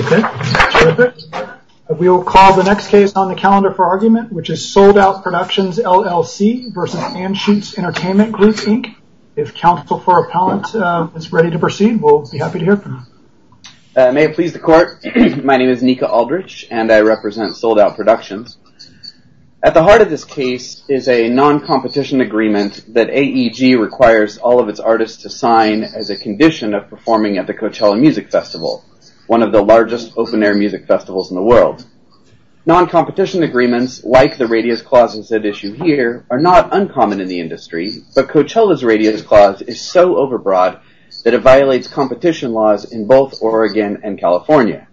Okay, terrific. We will call the next case on the calendar for argument, which is Sold Out Productions, LLC v. Anschutz Entertainment Group, Inc. If counsel for appellant is ready to proceed, we'll be happy to hear from you. May it please the court. My name is Nika Aldrich, and I represent Sold Out Productions. At the heart of this case is a non-competition agreement that AEG requires all of its artists to sign as a condition of performing at the Coachella Music Festival, one of the largest open-air music festivals in the world. Non-competition agreements, like the Radius Clause is at issue here, are not uncommon in the industry, but Coachella's Radius Clause is so overbroad that it violates competition laws in both Oregon and California.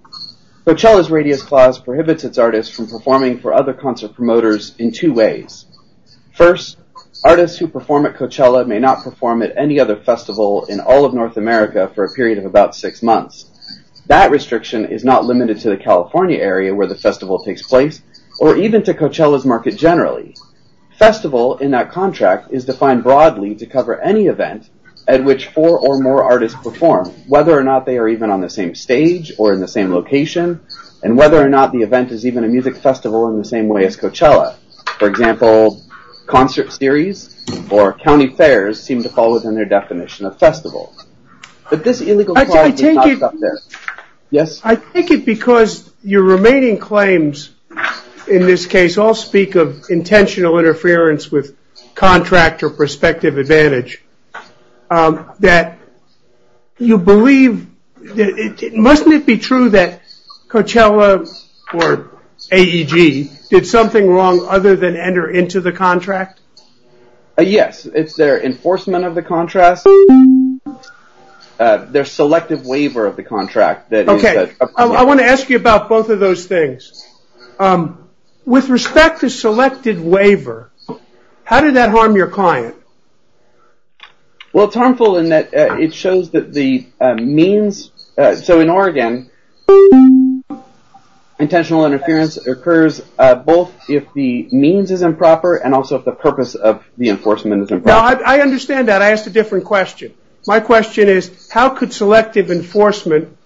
Coachella's Radius Clause prohibits its artists from performing for other concert promoters in two ways. First, artists who perform at Coachella may not perform at any other festival in all of North America for a period of about six months. That restriction is not limited to the California area where the festival takes place, or even to Coachella's market generally. Festival, in that contract, is defined broadly to cover any event at which four or more artists perform, whether or not they are even on the same stage or in the same location, and whether or not the event is even a music festival in the same way as Coachella. For example, concert series or county fairs seem to fall within their definition of festival. But this illegal clause is not up there. I take it because your remaining claims in this case all speak of intentional interference with contract or prospective advantage, that you believe... Mustn't it be true that Coachella, or AEG, did something wrong other than enter into the contract? Yes, it's their enforcement of the contract. Their selective waiver of the contract. Okay, I want to ask you about both of those things. With respect to selected waiver, how did that harm your client? Well, it's harmful in that it shows that the means... So in Oregon... Intentional interference occurs both if the means is improper and also if the purpose of the enforcement is improper. I understand that. I asked a different question. My question is, how could selective enforcement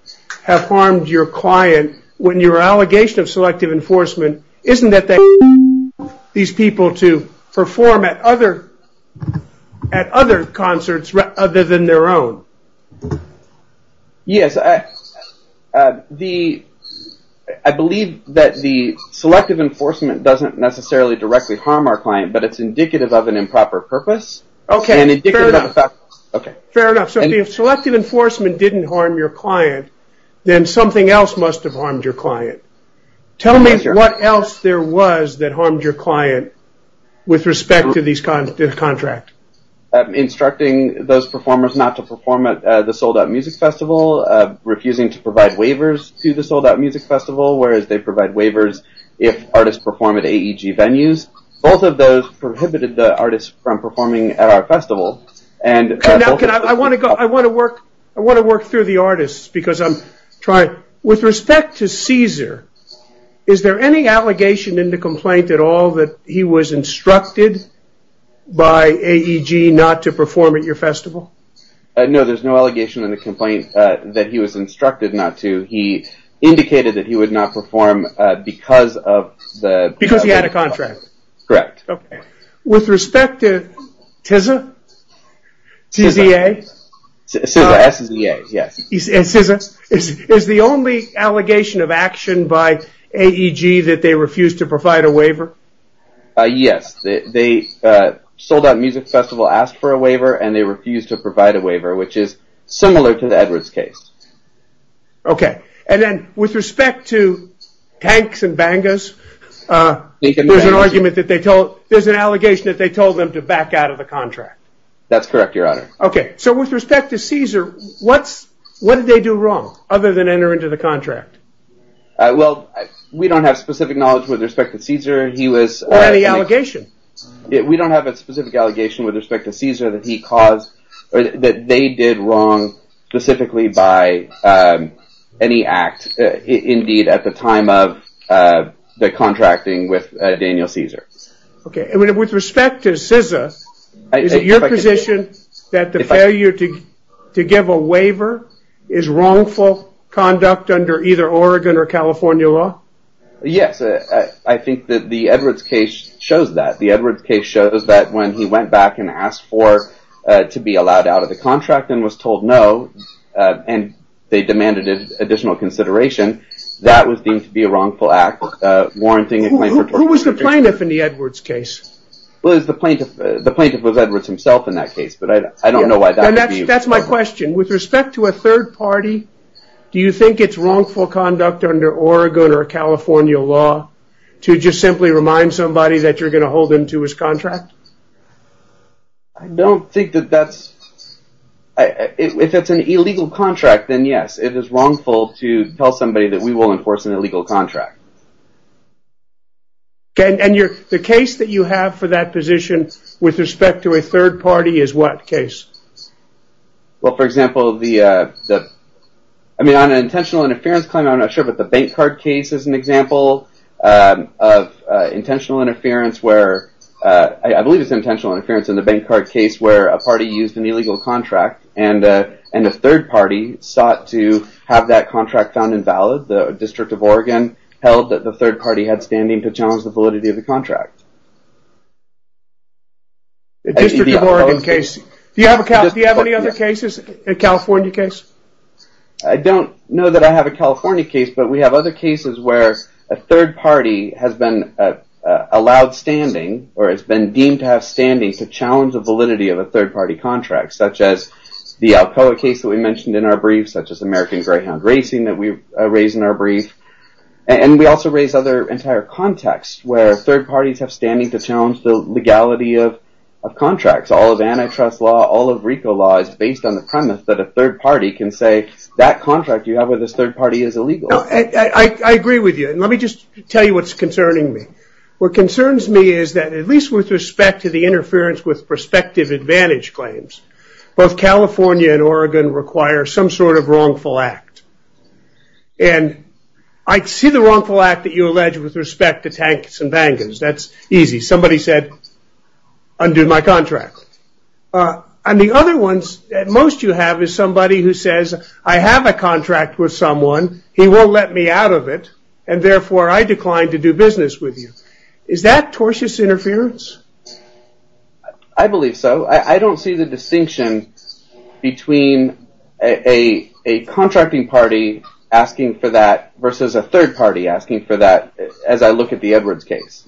have harmed your client when your allegation of selective enforcement isn't that they... These people to perform at other concerts other than their own. Yes, I believe that the selective enforcement doesn't necessarily directly harm our client, but it's indicative of an improper purpose. Okay, fair enough. So if selective enforcement didn't harm your client, then something else must have harmed your client. Tell me what else there was that harmed your client with respect to this contract. Instructing those performers not to perform at the sold-out music festival, refusing to provide waivers to the sold-out music festival, whereas they provide waivers if artists perform at AEG venues. Both of those prohibited the artists from performing at our festival. I want to work through the artists because I'm trying... With respect to Caesar, is there any allegation in the complaint at all that he was instructed by AEG not to perform at your festival? No, there's no allegation in the complaint that he was instructed not to. He indicated that he would not perform because of the... Because he had a contract. Correct. Okay. With respect to TZA, T-Z-A... TZA, S-Z-A, yes. Is the only allegation of action by AEG that they refused to provide a waiver? Yes. The sold-out music festival asked for a waiver and they refused to provide a waiver, which is similar to the Edwards case. Okay. And then with respect to tanks and bangas, there's an allegation that they told them to back out of the contract. That's correct, Your Honor. Okay. So with respect to Caesar, what did they do wrong other than enter into the contract? Well, we don't have specific knowledge with respect to Caesar. He was... Or any allegation. We don't have a specific allegation with respect to Caesar that he caused... that they did wrong specifically by any act, indeed, at the time of the contracting with Daniel Caesar. Okay. And with respect to Caesar, is it your position that the failure to give a waiver is wrongful conduct under either Oregon or California law? Yes. I think that the Edwards case shows that. The Edwards case shows that when he went back and asked for... to be allowed out of the contract and was told no and they demanded additional consideration, that was deemed to be a wrongful act warranting a claim for... Who was the plaintiff in the Edwards case? The plaintiff was Edwards himself in that case, but I don't know why that would be... That's my question. With respect to a third party, do you think it's wrongful conduct under Oregon or California law to just simply remind somebody that you're going to hold him to his contract? I don't think that that's... If it's an illegal contract, then yes. It is wrongful to tell somebody that we will enforce an illegal contract. And the case that you have for that position with respect to a third party is what case? Well, for example, the... I mean, on an intentional interference claim, I'm not sure, but the bank card case is an example of intentional interference where... I believe it's intentional interference in the bank card case where a party used an illegal contract and a third party sought to have that contract found invalid. The District of Oregon held that the third party had standing to challenge the validity of the contract. The District of Oregon case. Do you have any other cases, a California case? I don't know that I have a California case, but we have other cases where a third party has been allowed standing or has been deemed to have standing to challenge the validity of a third party contract, such as the Alcoa case that we mentioned in our brief, such as American Greyhound Racing that we raised in our brief. And we also raised other entire contexts where third parties have standing to challenge the legality of contracts. All of antitrust law, all of RICO law, is based on the premise that a third party can say that contract you have with this third party is illegal. I agree with you. And let me just tell you what's concerning me. What concerns me is that, at least with respect to the interference with prospective advantage claims, both California and Oregon require some sort of wrongful act. And I see the wrongful act that you allege with respect to tanks and bangers. That's easy. Somebody said, undo my contract. And the other ones that most you have is somebody who says, I have a contract with someone. He won't let me out of it, and therefore I decline to do business with you. Is that tortious interference? I believe so. I don't see the distinction between a contracting party asking for that versus a third party asking for that as I look at the Edwards case.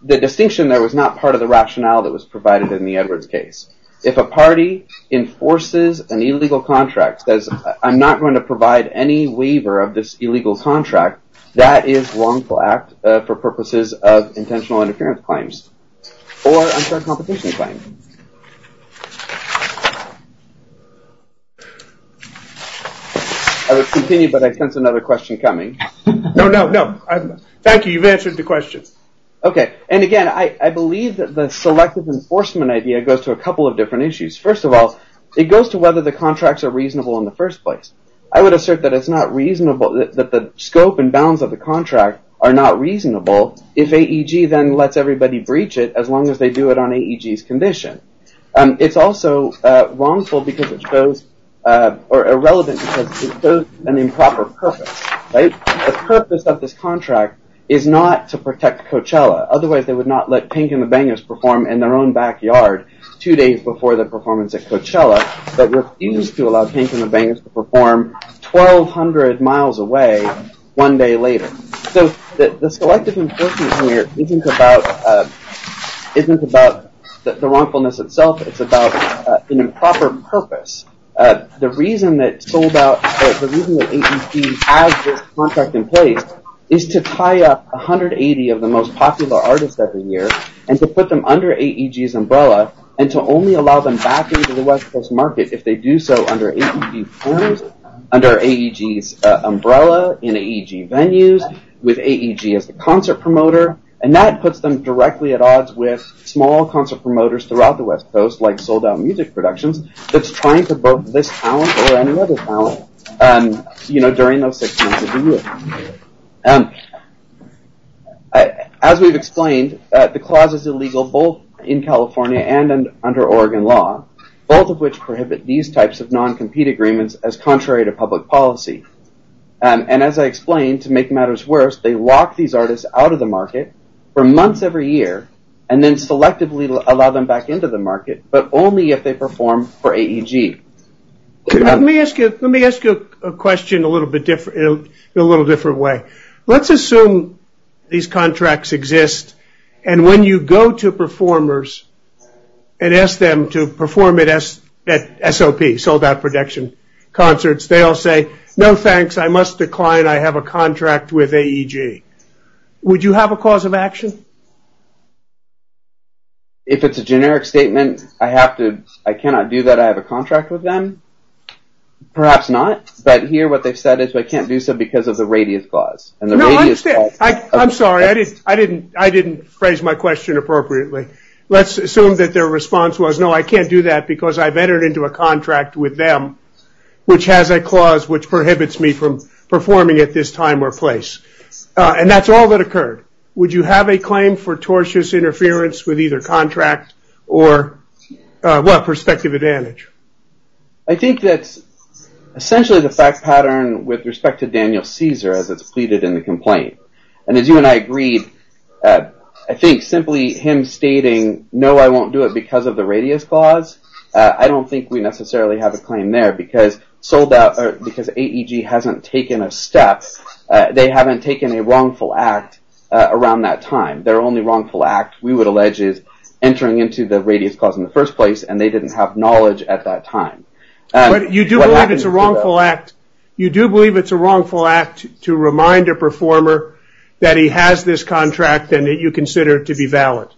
The distinction there was not part of the rationale that was provided in the Edwards case. If a party enforces an illegal contract, says I'm not going to provide any waiver of this illegal contract, that is wrongful act for purposes of intentional interference claims or unfair competition claims. I would continue, but I sense another question coming. No, no, no. Thank you. You've answered the question. Okay. And, again, I believe that the selective enforcement idea goes to a couple of different issues. First of all, it goes to whether the contracts are reasonable in the first place. I would assert that it's not reasonable, that the scope and bounds of the contract are not reasonable if AEG then lets everybody breach it as long as they do it on AEG's condition. It's also wrongful because it shows or irrelevant because it shows an improper purpose. The purpose of this contract is not to protect Coachella. Otherwise, they would not let Pink and the Bangers perform in their own backyard two days before the performance at Coachella but refused to allow Pink and the Bangers to perform 1,200 miles away one day later. So the selective enforcement here isn't about the wrongfulness itself. It's about an improper purpose. The reason that sold out or the reason that AEP has this contract in place is to tie up 180 of the most popular artists every year and to put them under AEG's umbrella and to only allow them back into the West Coast market if they do so under AEP forms, under AEG's umbrella, in AEG venues, with AEG as the concert promoter, and that puts them directly at odds with small concert promoters throughout the West Coast like sold out music productions that's trying for both this talent or any other talent during those six months of the year. As we've explained, the clause is illegal both in California and under Oregon law, both of which prohibit these types of non-compete agreements as contrary to public policy. And as I explained, to make matters worse, they lock these artists out of the market for months every year and then selectively allow them back into the market but only if they perform for AEG. Let me ask you a question in a little different way. Let's assume these contracts exist and when you go to performers and ask them to perform at SOP, sold out production concerts, they all say, no thanks, I must decline, I have a contract with AEG. Would you have a cause of action? If it's a generic statement, I have to, I cannot do that, I have a contract with them, perhaps not, but here what they've said is I can't do so because of the radius clause. I'm sorry, I didn't phrase my question appropriately. Let's assume that their response was, no, I can't do that because I've entered into a contract with them which has a clause which prohibits me from performing at this time or place. And that's all that occurred. Would you have a claim for tortious interference with either contract or, well, prospective advantage? I think that essentially the fact pattern with respect to Daniel Caesar as it's pleaded in the complaint. And as you and I agreed, I think simply him stating, no, I won't do it because of the radius clause, I don't think we necessarily have a claim there because sold out or because AEG hasn't taken a step, they haven't taken a wrongful act around that time. Their only wrongful act, we would allege, is entering into the radius clause in the first place and they didn't have knowledge at that time. You do believe it's a wrongful act to remind a performer that he has this contract and that you consider it to be valid?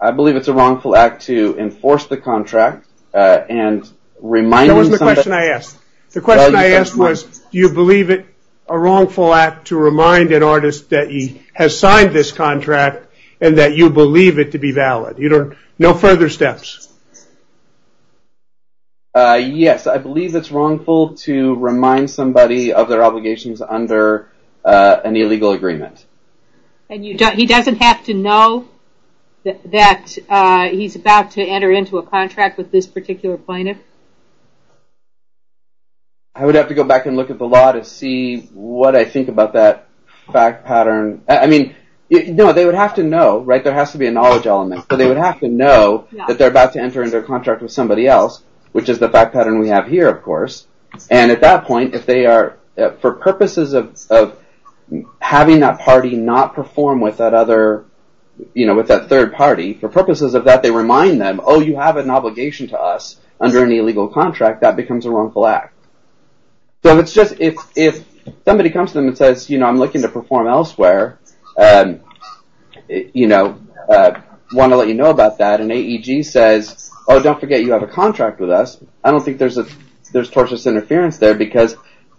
I believe it's a wrongful act to enforce the contract and remind... That wasn't the question I asked. The question I asked was, do you believe it a wrongful act to remind an artist that he has signed this contract and that you believe it to be valid? No further steps. Yes, I believe it's wrongful to remind somebody of their obligations under an illegal agreement. And he doesn't have to know that he's about to enter into a contract with this particular plaintiff? I would have to go back and look at the law to see what I think about that fact pattern. I mean, no, they would have to know, right? There has to be a knowledge element, but they would have to know that they're about to enter into a contract with somebody else, which is the fact pattern we have here, of course. And at that point, for purposes of having that party not perform with that third party, for purposes of that, they remind them, oh, you have an obligation to us under an illegal contract. That becomes a wrongful act. So if somebody comes to them and says, you know, I'm looking to perform elsewhere, you know, want to let you know about that, and AEG says, oh, don't forget you have a contract with us, I don't think there's tortuous interference there because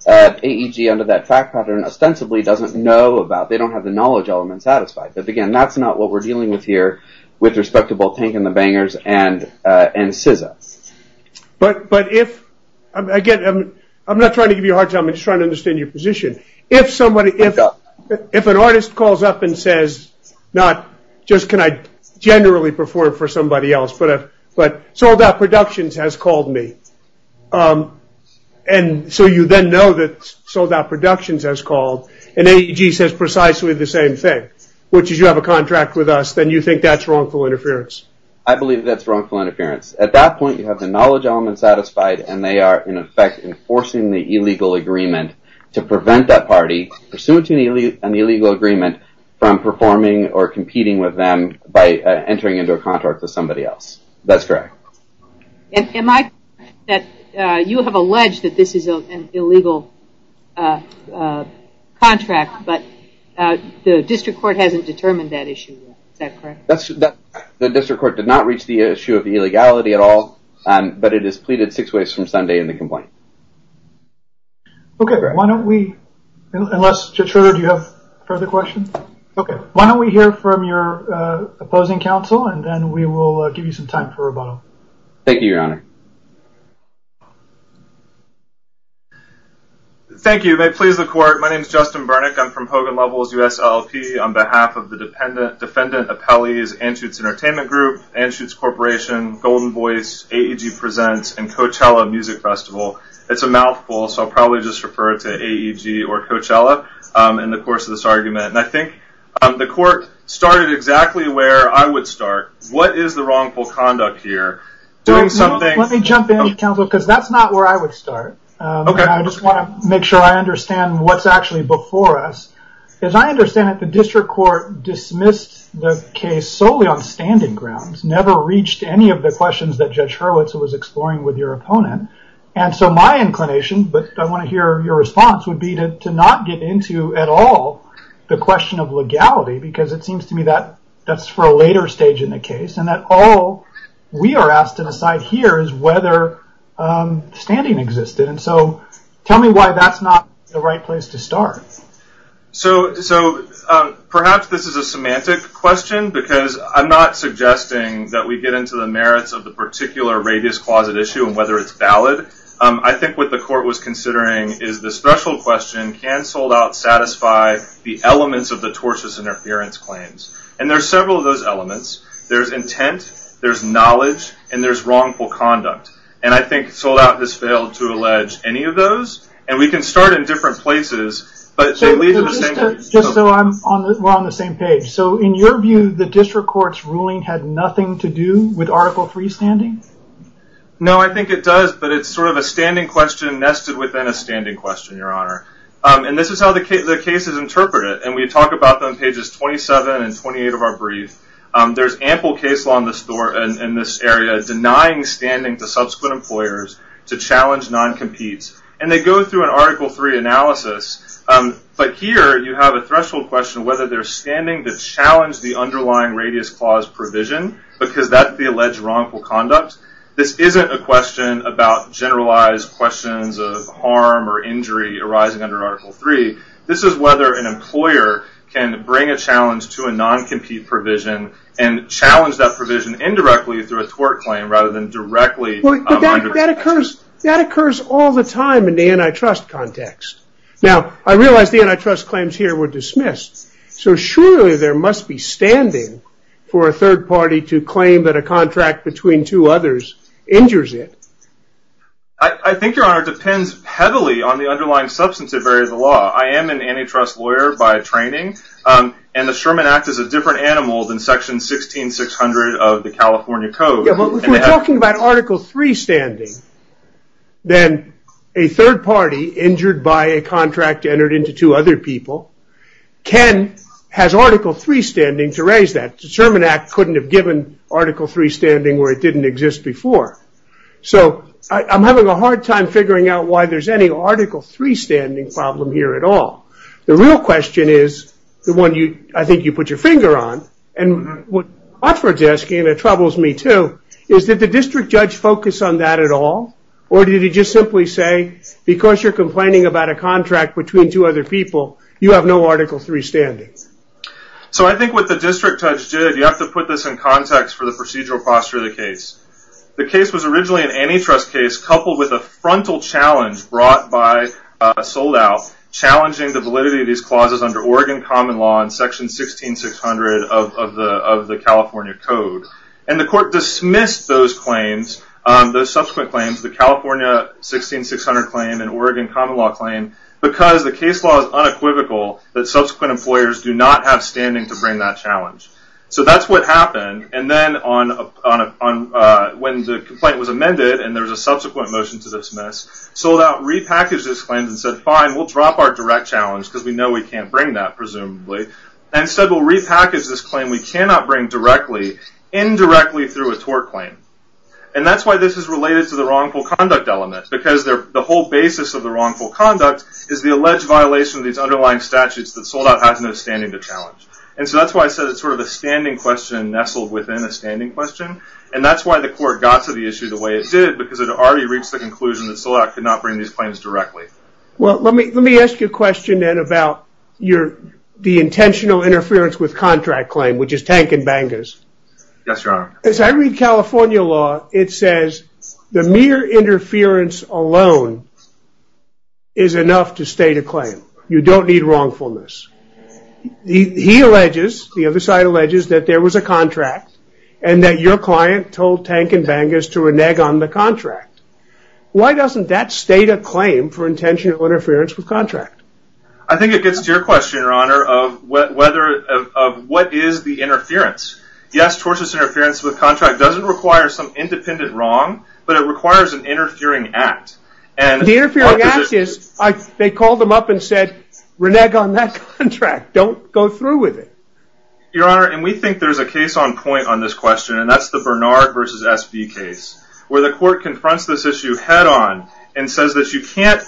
AEG under that fact pattern ostensibly doesn't know about, they don't have the knowledge element satisfied. But again, that's not what we're dealing with here with respect to both Tank and the Bangers and CISA. But if, again, I'm not trying to give you a hard time, I'm just trying to understand your position. If somebody, if an artist calls up and says, not just can I generally perform for somebody else, but sold-out productions has called me. And so you then know that sold-out productions has called, and AEG says precisely the same thing, which is you have a contract with us, then you think that's wrongful interference. I believe that's wrongful interference. At that point, you have the knowledge element satisfied, and they are, in effect, enforcing the illegal agreement to prevent that party, pursuant to an illegal agreement, from performing or competing with them by entering into a contract with somebody else. That's correct. Am I correct that you have alleged that this is an illegal contract, but the district court hasn't determined that issue yet? Is that correct? The district court did not reach the issue of the illegality at all, but it is pleaded six ways from Sunday in the complaint. Okay. Unless, Judge Schroeder, do you have further questions? Okay. Why don't we hear from your opposing counsel, and then we will give you some time for rebuttal. Thank you, Your Honor. Thank you. May it please the court. My name is Justin Burnick. I'm from Hogan Levels US LLP. On behalf of the defendant appellees, Anschutz Entertainment Group, Anschutz Corporation, Golden Voice, AEG Presents, and Coachella Music Festival, it's a mouthful, so I'll probably just refer to AEG or Coachella in the course of this argument. I think the court started exactly where I would start. What is the wrongful conduct here? Let me jump in, counsel, because that's not where I would start. Okay. I just want to make sure I understand what's actually before us. As I understand it, the district court dismissed the case solely on standing grounds, never reached any of the questions that Judge Hurwitz was exploring with your opponent. My inclination, but I want to hear your response, would be to not get into at all the question of legality, because it seems to me that that's for a later stage in the case, and that all we are asked to decide here is whether standing existed. Tell me why that's not the right place to start. Perhaps this is a semantic question, because I'm not suggesting that we get into the merits of the particular radius closet issue and whether it's valid. I think what the court was considering is the threshold question, can sold-out satisfy the elements of the tortious interference claims? There are several of those elements. There's intent, there's knowledge, and there's wrongful conduct. I think sold-out has failed to allege any of those. We can start in different places, but they lead to the same- Just so we're on the same page. In your view, the district court's ruling had nothing to do with Article III standing? No, I think it does, but it's a standing question nested within a standing question, Your Honor. This is how the cases interpret it, and we talk about them on pages 27 and 28 of our brief. There's ample case law in this area denying standing to subsequent employers to challenge non-competes. They go through an Article III analysis, but here you have a threshold question as to whether they're standing to challenge the underlying radius clause provision, because that's the alleged wrongful conduct. This isn't a question about generalized questions of harm or injury arising under Article III. This is whether an employer can bring a challenge to a non-compete provision and challenge that provision indirectly through a tort claim rather than directly- That occurs all the time in the antitrust context. Now, I realize the antitrust claims here were dismissed, so surely there must be standing for a third party to claim that a contract between two others injures it. I think, Your Honor, it depends heavily on the underlying substance of the law. I am an antitrust lawyer by training, and the Sherman Act is a different animal than Section 16600 of the California Code. If we're talking about Article III standing, then a third party injured by a contract entered into two other people. Ken has Article III standing to raise that. The Sherman Act couldn't have given Article III standing where it didn't exist before. I'm having a hard time figuring out why there's any Article III standing problem here at all. The real question is the one I think you put your finger on, and what Oxford's asking, and it troubles me too, is did the district judge focus on that at all, or did he just simply say, because you're complaining about a contract between two other people, you have no Article III standing? I think what the district judge did, you have to put this in context for the procedural posture of the case. The case was originally an antitrust case coupled with a frontal challenge brought by a sold-out challenging the validity of these clauses under Oregon common law and Section 16600 of the California Code. And the court dismissed those claims, those subsequent claims, the California 16600 claim and Oregon common law claim, because the case law is unequivocal that subsequent employers do not have standing to bring that challenge. So that's what happened. And then when the complaint was amended and there was a subsequent motion to dismiss, sold-out repackaged those claims and said, fine, we'll drop our direct challenge because we know we can't bring that, presumably. Instead, we'll repackage this claim that we cannot bring directly, indirectly through a tort claim. And that's why this is related to the wrongful conduct element, because the whole basis of the wrongful conduct is the alleged violation of these underlying statutes that sold-out has no standing to challenge. And so that's why I said it's sort of a standing question nestled within a standing question. And that's why the court got to the issue the way it did, because it had already reached the conclusion that sold-out could not bring these claims directly. Well, let me ask you a question then about the intentional interference with contract claim, which is Tank and Bangors. Yes, Your Honor. As I read California law, it says the mere interference alone is enough to state a claim. You don't need wrongfulness. He alleges, the other side alleges, that there was a contract and that your client told Tank and Bangors to renege on the contract. Why doesn't that state a claim for intentional interference with contract? I think it gets to your question, Your Honor, of what is the interference. Yes, tortious interference with contract doesn't require some independent wrong, but it requires an interfering act. The interfering act is, they called him up and said, renege on that contract. Don't go through with it. Your Honor, and we think there's a case on point on this question, and that's the Bernard v. S.B. case, where the court confronts this issue head-on and says that you can't,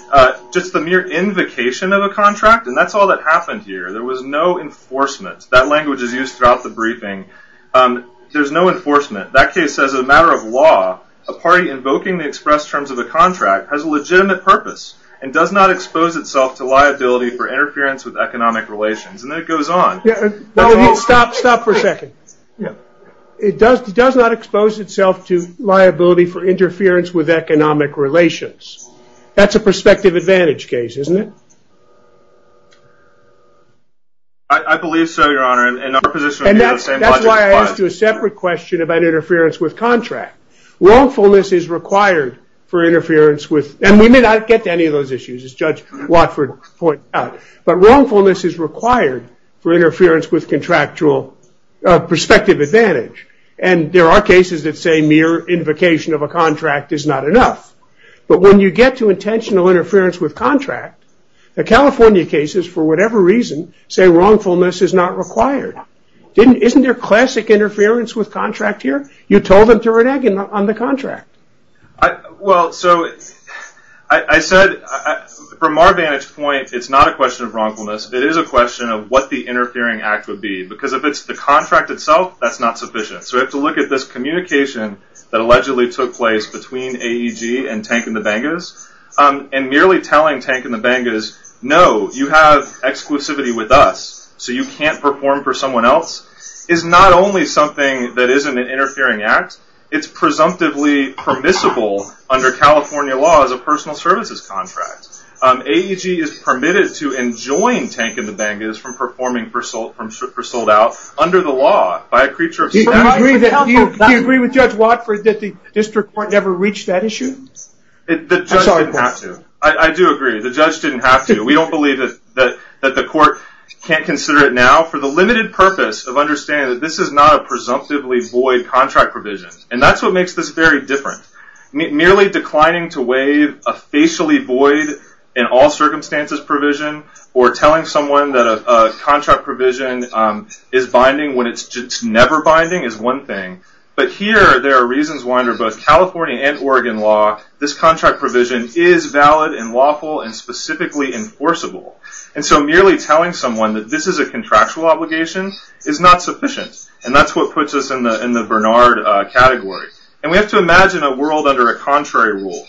just the mere invocation of a contract, and that's all that happened here. There was no enforcement. That language is used throughout the briefing. There's no enforcement. That case says, as a matter of law, a party invoking the express terms of a contract has a legitimate purpose and does not expose itself to liability for interference with economic relations. And then it goes on. Stop for a second. It does not expose itself to liability for interference with economic relations. That's a prospective advantage case, isn't it? I believe so, Your Honor. And that's why I asked you a separate question about interference with contract. Wrongfulness is required for interference with, and we may not get to any of those issues, as Judge Watford pointed out, but wrongfulness is required for interference with contractual prospective advantage. And there are cases that say mere invocation of a contract is not enough. But when you get to intentional interference with contract, the California cases, for whatever reason, say wrongfulness is not required. Isn't there classic interference with contract here? You told them to run egg on the contract. Well, so I said, from our vantage point, it's not a question of wrongfulness. It is a question of what the interfering act would be. Because if it's the contract itself, that's not sufficient. So we have to look at this communication that allegedly took place between AEG and Tank and the Bangas. And merely telling Tank and the Bangas, no, you have exclusivity with us, so you can't perform for someone else, is not only something that isn't an interfering act, it's presumptively permissible under California law as a personal services contract. AEG is permitted to enjoin Tank and the Bangas from performing for sold out under the law by a creature of special... Do you agree with Judge Watford that the district court never reached that issue? The judge didn't have to. I do agree, the judge didn't have to. We don't believe that the court can't consider it now for the limited purpose of understanding that this is not a presumptively void contract provision. And that's what makes this very different. Merely declining to waive a facially void in all circumstances provision, or telling someone that a contract provision is binding when it's never binding is one thing, but here there are reasons why under both California and Oregon law this contract provision is valid and lawful and specifically enforceable. And so merely telling someone that this is a contractual obligation is not sufficient. And that's what puts us in the Bernard category. And we have to imagine a world under a contrary rule.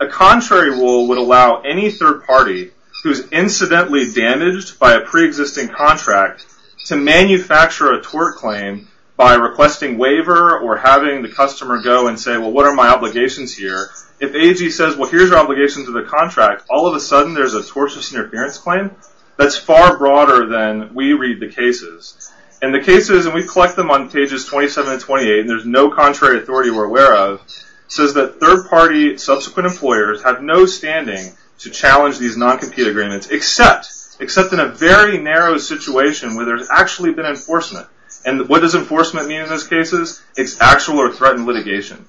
A contrary rule would allow any third party who's incidentally damaged by a pre-existing contract to manufacture a tort claim by requesting waiver or having the customer go and say, well, what are my obligations here? If AG says, well, here's your obligations to the contract, all of a sudden there's a tortious interference claim? That's far broader than we read the cases. And the cases, and we collect them on pages 27 and 28, and there's no contrary authority we're aware of, says that third party subsequent employers have no standing to challenge these non-compete agreements, except in a very narrow situation where there's actually been enforcement. And what does enforcement mean in those cases? It's actual or threatened litigation.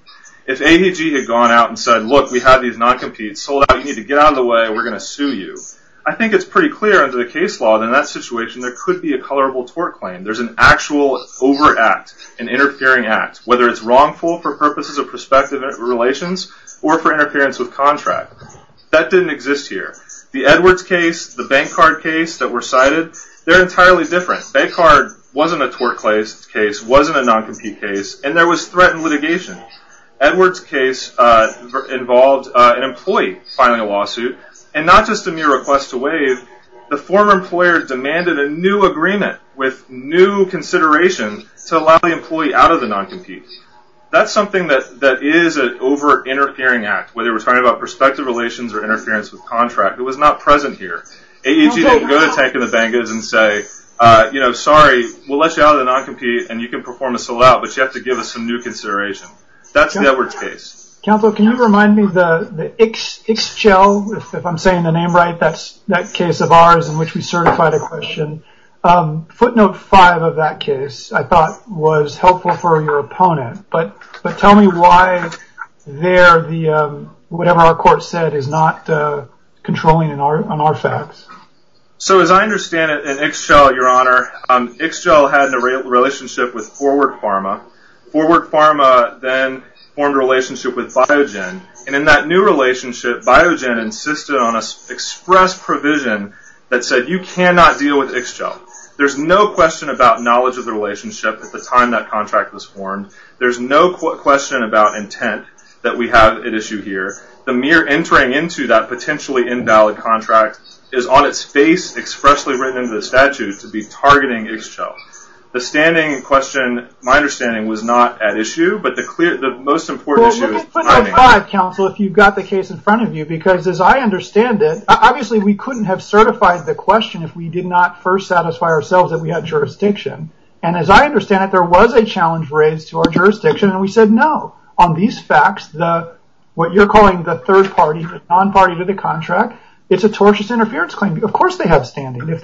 If AVG had gone out and said, look, we have these non-competes, sold out, you need to get out of the way, we're going to sue you, I think it's pretty clear under the case law that in that situation there could be a colorable tort claim. There's an actual overact, an interfering act, whether it's wrongful for purposes of prospective relations or for interference with contract. That didn't exist here. The Edwards case, the Bancard case that were cited, they're entirely different. Bancard wasn't a tort case, wasn't a non-compete case, and there was threatened litigation. Edwards case involved an employee filing a lawsuit, and not just a mere request to waive, the former employer demanded a new agreement with new consideration to allow the employee out of the non-compete. That's something that is an over-interfering act, whether we're talking about prospective relations or interference with contract. It was not present here. AEG didn't go to tank in the bangers and say, sorry, we'll let you out of the non-compete and you can perform a sold out, but you have to give us some new consideration. That's the Edwards case. Counsel, can you remind me, the Ixchel, if I'm saying the name right, that case of ours in which we certified a question, footnote five of that case I thought was helpful for your opponent, but tell me why there, whatever our court said is not controlling on our facts. So as I understand it in Ixchel, your honor, Ixchel had a relationship with Forward Pharma, Forward Pharma then formed a relationship with Biogen, and in that new relationship, Biogen insisted on an express provision that said you cannot deal with Ixchel. There's no question about knowledge of the relationship at the time that contract was formed. There's no question about intent that we have at issue here. The mere entering into that potentially invalid contract is on its face expressly written into the statute to be targeting Ixchel. The standing question, my understanding, was not at issue, but the most important issue is timing. Let me put my five, counsel, if you've got the case in front of you, because as I understand it, obviously we couldn't have certified the question if we did not first satisfy ourselves that we had jurisdiction. And as I understand it, there was a challenge that was raised to our jurisdiction, and we said no. On these facts, what you're calling the third party, the non-party to the contract, it's a tortious interference claim. Of course they have standing if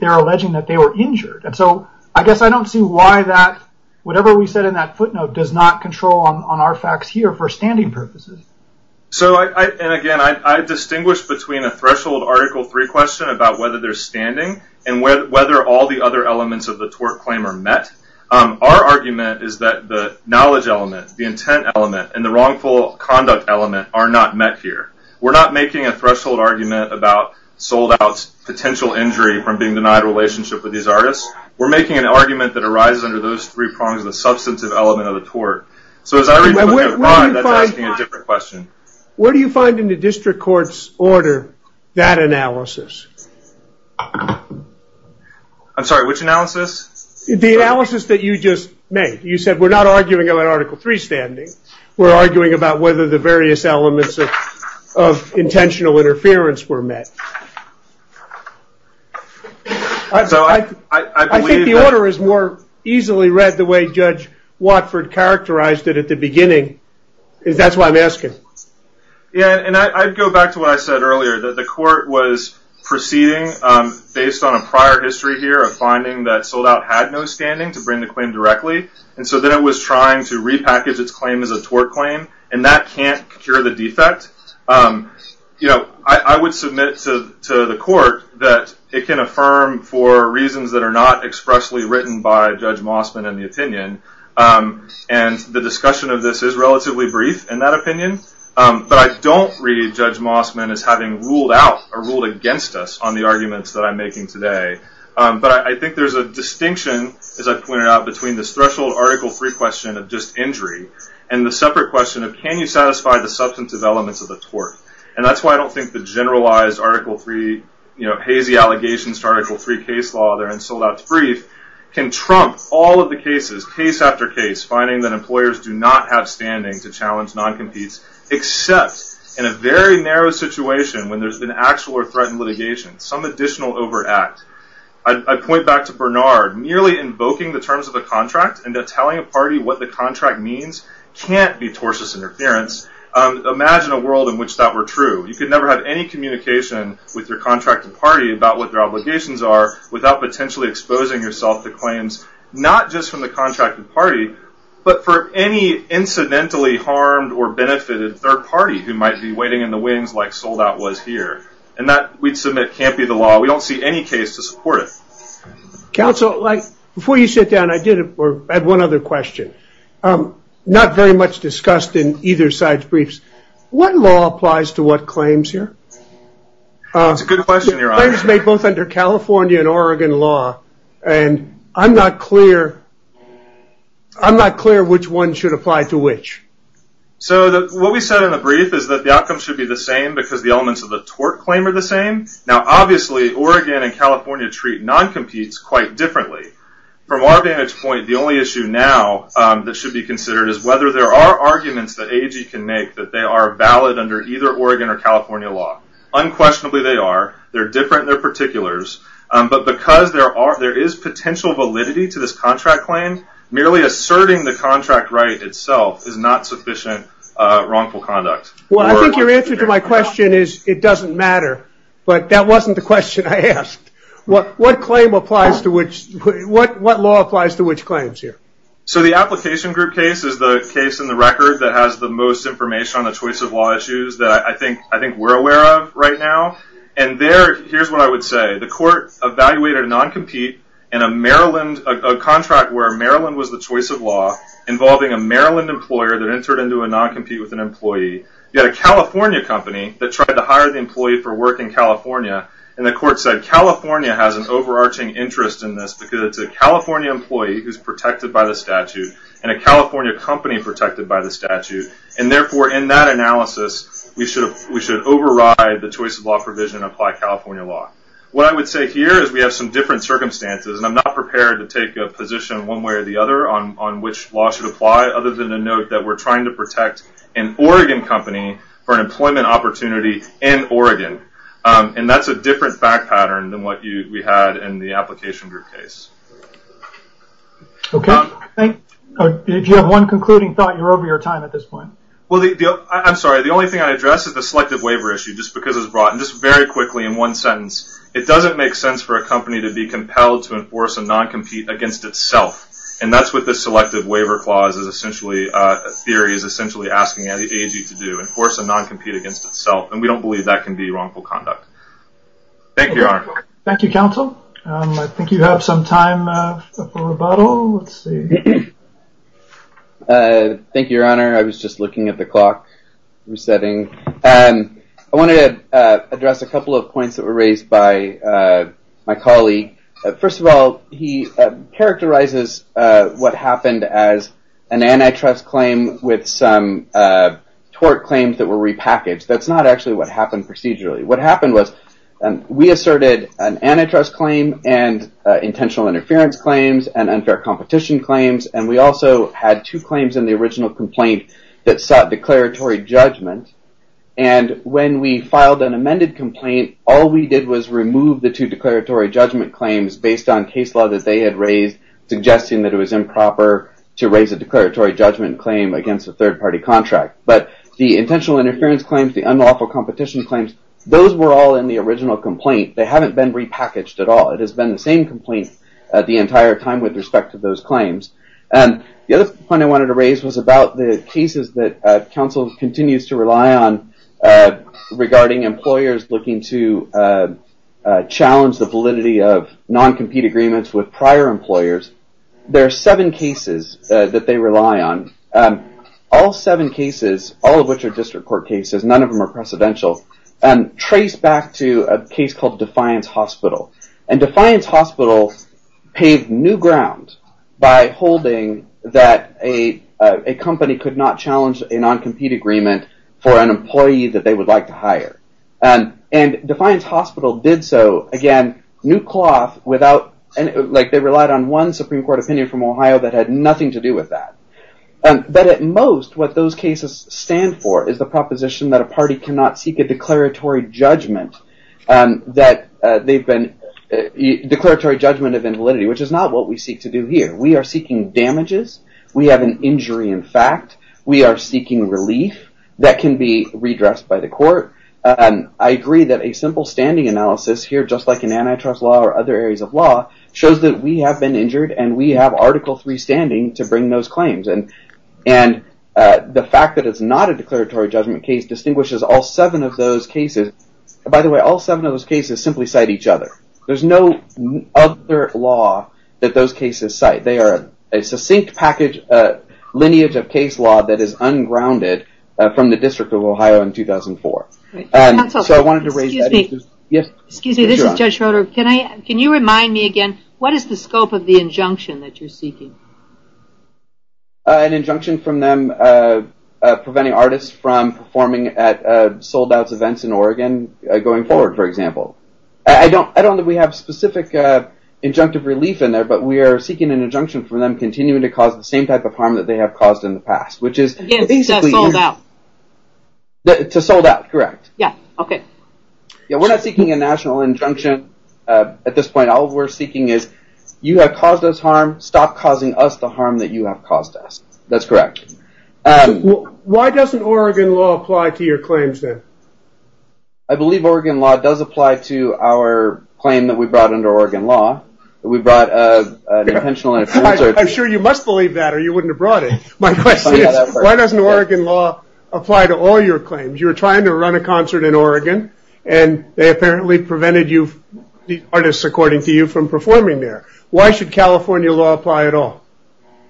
they're alleging that they were injured. I guess I don't see why that, whatever we said in that footnote, does not control on our facts here for standing purposes. Again, I distinguish between a threshold Article III question about whether they're standing and whether all the other elements of the tort claim are met. Our argument is that the knowledge element, the intent element, and the wrongful conduct element are not met here. We're not making a threshold argument about sold-out potential injury from being denied a relationship with these artists. We're making an argument that arises under those three prongs of the substantive element of the tort. So as I read what we have in mind, that's asking a different question. What do you find in the district court's order that analysis? I'm sorry, which analysis? The analysis that you just made. You said we're not arguing about Article III standing. We're arguing about whether the various elements of intentional interference were met. I think the order is more easily read the way Judge Watford characterized it at the beginning. That's why I'm asking. Yeah, and I'd go back to what I said earlier, that the court was proceeding based on a prior history here of finding that sold-out had no standing to bring the claim directly, and so then it was trying to repackage its claim as a tort claim, and that can't cure the defect. I would submit to the court that it can affirm for reasons that are not expressly written by Judge Mossman in the opinion, and the discussion of this is relatively brief in that opinion, but I don't read Judge Mossman as having ruled out or ruled against us on the arguments that I'm making today. But I think there's a distinction, as I pointed out, between this threshold Article III question of just injury and the separate question of can you satisfy the substantive elements of the tort, and that's why I don't think the generalized Article III, you know, hazy allegations to Article III case law there in sold-out's brief can trump all of the cases, case after case, finding that employers do not have standing to challenge non-competes except in a very narrow situation when there's been actual or threatened litigation, some additional overact. I point back to Bernard, merely invoking the terms of a contract and then telling a party what the contract means can't be tortious interference. Imagine a world in which that were true. You could never have any communication with your contracted party about what their obligations are without potentially exposing yourself to claims, not just from the contracted party, but for any incidentally harmed or benefited third party who might be waiting in the wings like sold-out was here, and that, we'd submit, can't be the law. We don't see any case to support it. Counsel, before you sit down, I did have one other question. Not very much discussed in either side's briefs. What law applies to what claims here? That's a good question, Your Honor. Claims made both under California and Oregon law, and I'm not clear, I'm not clear which one should apply to which. So what we said in the brief is that the outcome should be the same because the elements of the tort claim are the same. Now, obviously, Oregon and California treat non-competes quite differently. From our vantage point, the only issue now that should be considered is whether there are arguments that AG can make that they are valid under either Oregon or California law. Unquestionably, they are. They're different. They're particulars. But because there is potential validity to this contract claim, merely asserting the contract right itself is not sufficient wrongful conduct. Well, I think your answer to my question is it doesn't matter. But that wasn't the question I asked. What claim applies to which, what law applies to which claims here? So the application group case is the case in the record that has the most information on the choice of law issues that I think we're aware of right now. And there, here's what I would say. The court evaluated a non-compete in a Maryland, a contract where Maryland was the choice of law involving a Maryland employer that entered into a non-compete with an employee. You had a California company that tried to hire the employee for work in California. And the court said, California has an overarching interest in this because it's a California employee who's protected by the statute and a California company protected by the statute. And therefore, in that analysis, we should override the choice of law provision and apply California law. What I would say here is we have some different circumstances. And I'm not prepared to take a position one way or the other on which law should apply, other than to note that we're trying to protect an Oregon company for an employment opportunity in Oregon. And that's a different fact pattern than what we had in the application group case. Okay. If you have one concluding thought, you're over your time at this point. Well, I'm sorry. The only thing I addressed is the selective waiver issue just because it was brought in just very quickly in one sentence. It doesn't make sense for a company to be compelled to enforce a non-compete against itself. And that's what the selective waiver clause is essentially, a theory is essentially asking the AG to do, enforce a non-compete against itself. And we don't believe that can be wrongful conduct. Thank you, Your Honor. Thank you, counsel. I think you have some time for rebuttal. Let's see. Thank you, Your Honor. I was just looking at the clock resetting. I wanted to address a couple of points that were raised by my colleague. First of all, he characterizes what happened as an antitrust claim with some tort claims that were repackaged. That's not actually what happened procedurally. What happened was we asserted an antitrust claim and intentional interference claims and unfair competition claims, and we also had two claims in the original complaint that sought declaratory judgment. And when we filed an amended complaint, all we did was remove the two declaratory judgment claims based on case law that they had raised suggesting that it was improper to raise a declaratory judgment claim against a third-party contract. But the intentional interference claims, the unlawful competition claims, those were all in the original complaint. They haven't been repackaged at all. It has been the same complaint the entire time with respect to those claims. The other point I wanted to raise was about the cases that counsel continues to rely on regarding employers looking to challenge the validity of non-compete agreements with prior employers. There are seven cases that they rely on. All seven cases, all of which are district court cases, none of them are precedential, trace back to a case called Defiance Hospital. And Defiance Hospital paved new ground by holding that a company could not challenge a non-compete agreement for an employee that they would like to hire. And Defiance Hospital did so, again, new cloth without... They relied on one Supreme Court opinion from Ohio that had nothing to do with that. But at most, what those cases stand for is the proposition that a party cannot seek a declaratory judgment that they've been... Declaratory judgment of invalidity, which is not what we seek to do here. We are seeking damages. We have an injury in fact. We are seeking relief that can be redressed by the court. I agree that a simple standing analysis here, just like in antitrust law or other areas of law, shows that we have been injured and we have Article III standing to bring those claims. And the fact that it's not a declaratory judgment case distinguishes all seven of those cases. By the way, all seven of those cases simply cite each other. There's no other law that those cases cite. They are a succinct package, a lineage of case law that is ungrounded from the District of Ohio in 2004. Excuse me. This is Judge Schroeder. Can you remind me again, what is the scope of the injunction that you're seeking? An injunction from them preventing artists from performing at sold-outs events in Oregon going forward, for example. I don't know that we have specific injunctive relief in there, but we are seeking an injunction from them continuing to cause the same type of harm that they have caused in the past, to sold-out. To sold-out, correct. Yeah, okay. We're not seeking a national injunction at this point. All we're seeking is, you have caused us harm, stop causing us the harm that you have caused us. That's correct. Why doesn't Oregon law apply to your claims then? I believe Oregon law does apply to our claim that we brought under Oregon law. We brought an intentional... I'm sure you must believe that or you wouldn't have brought it. My question is, why doesn't Oregon law apply to all your claims? You were trying to run a concert in Oregon and they apparently prevented you, the artists according to you, from performing there. Why should California law apply at all?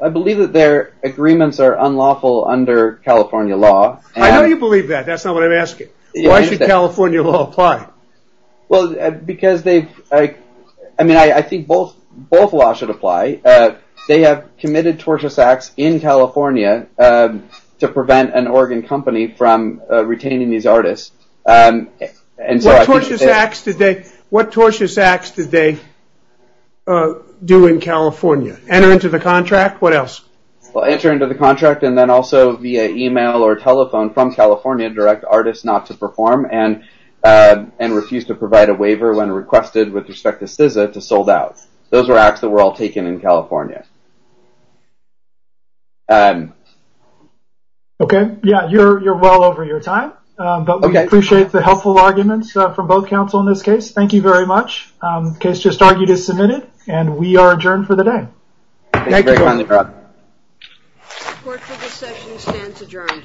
I believe that their agreements are unlawful under California law. I know you believe that. That's not what I'm asking. Why should California law apply? Well, because they've... I mean, I think both laws should apply. They have committed tortious acts in California to prevent an Oregon company from retaining these artists. What tortious acts did they do in California? Enter into the contract? What else? Enter into the contract and then also via email or telephone from California direct artists not to perform and refuse to provide a waiver when requested with respect to SZA to sold out. Those were acts that were all taken in California. Okay. Yeah, you're well over your time. Okay. But we appreciate the helpful arguments from both counsel in this case. Thank you very much. The case just argued is submitted and we are adjourned for the day. Thank you. Thank you very much. Court for this session stands adjourned.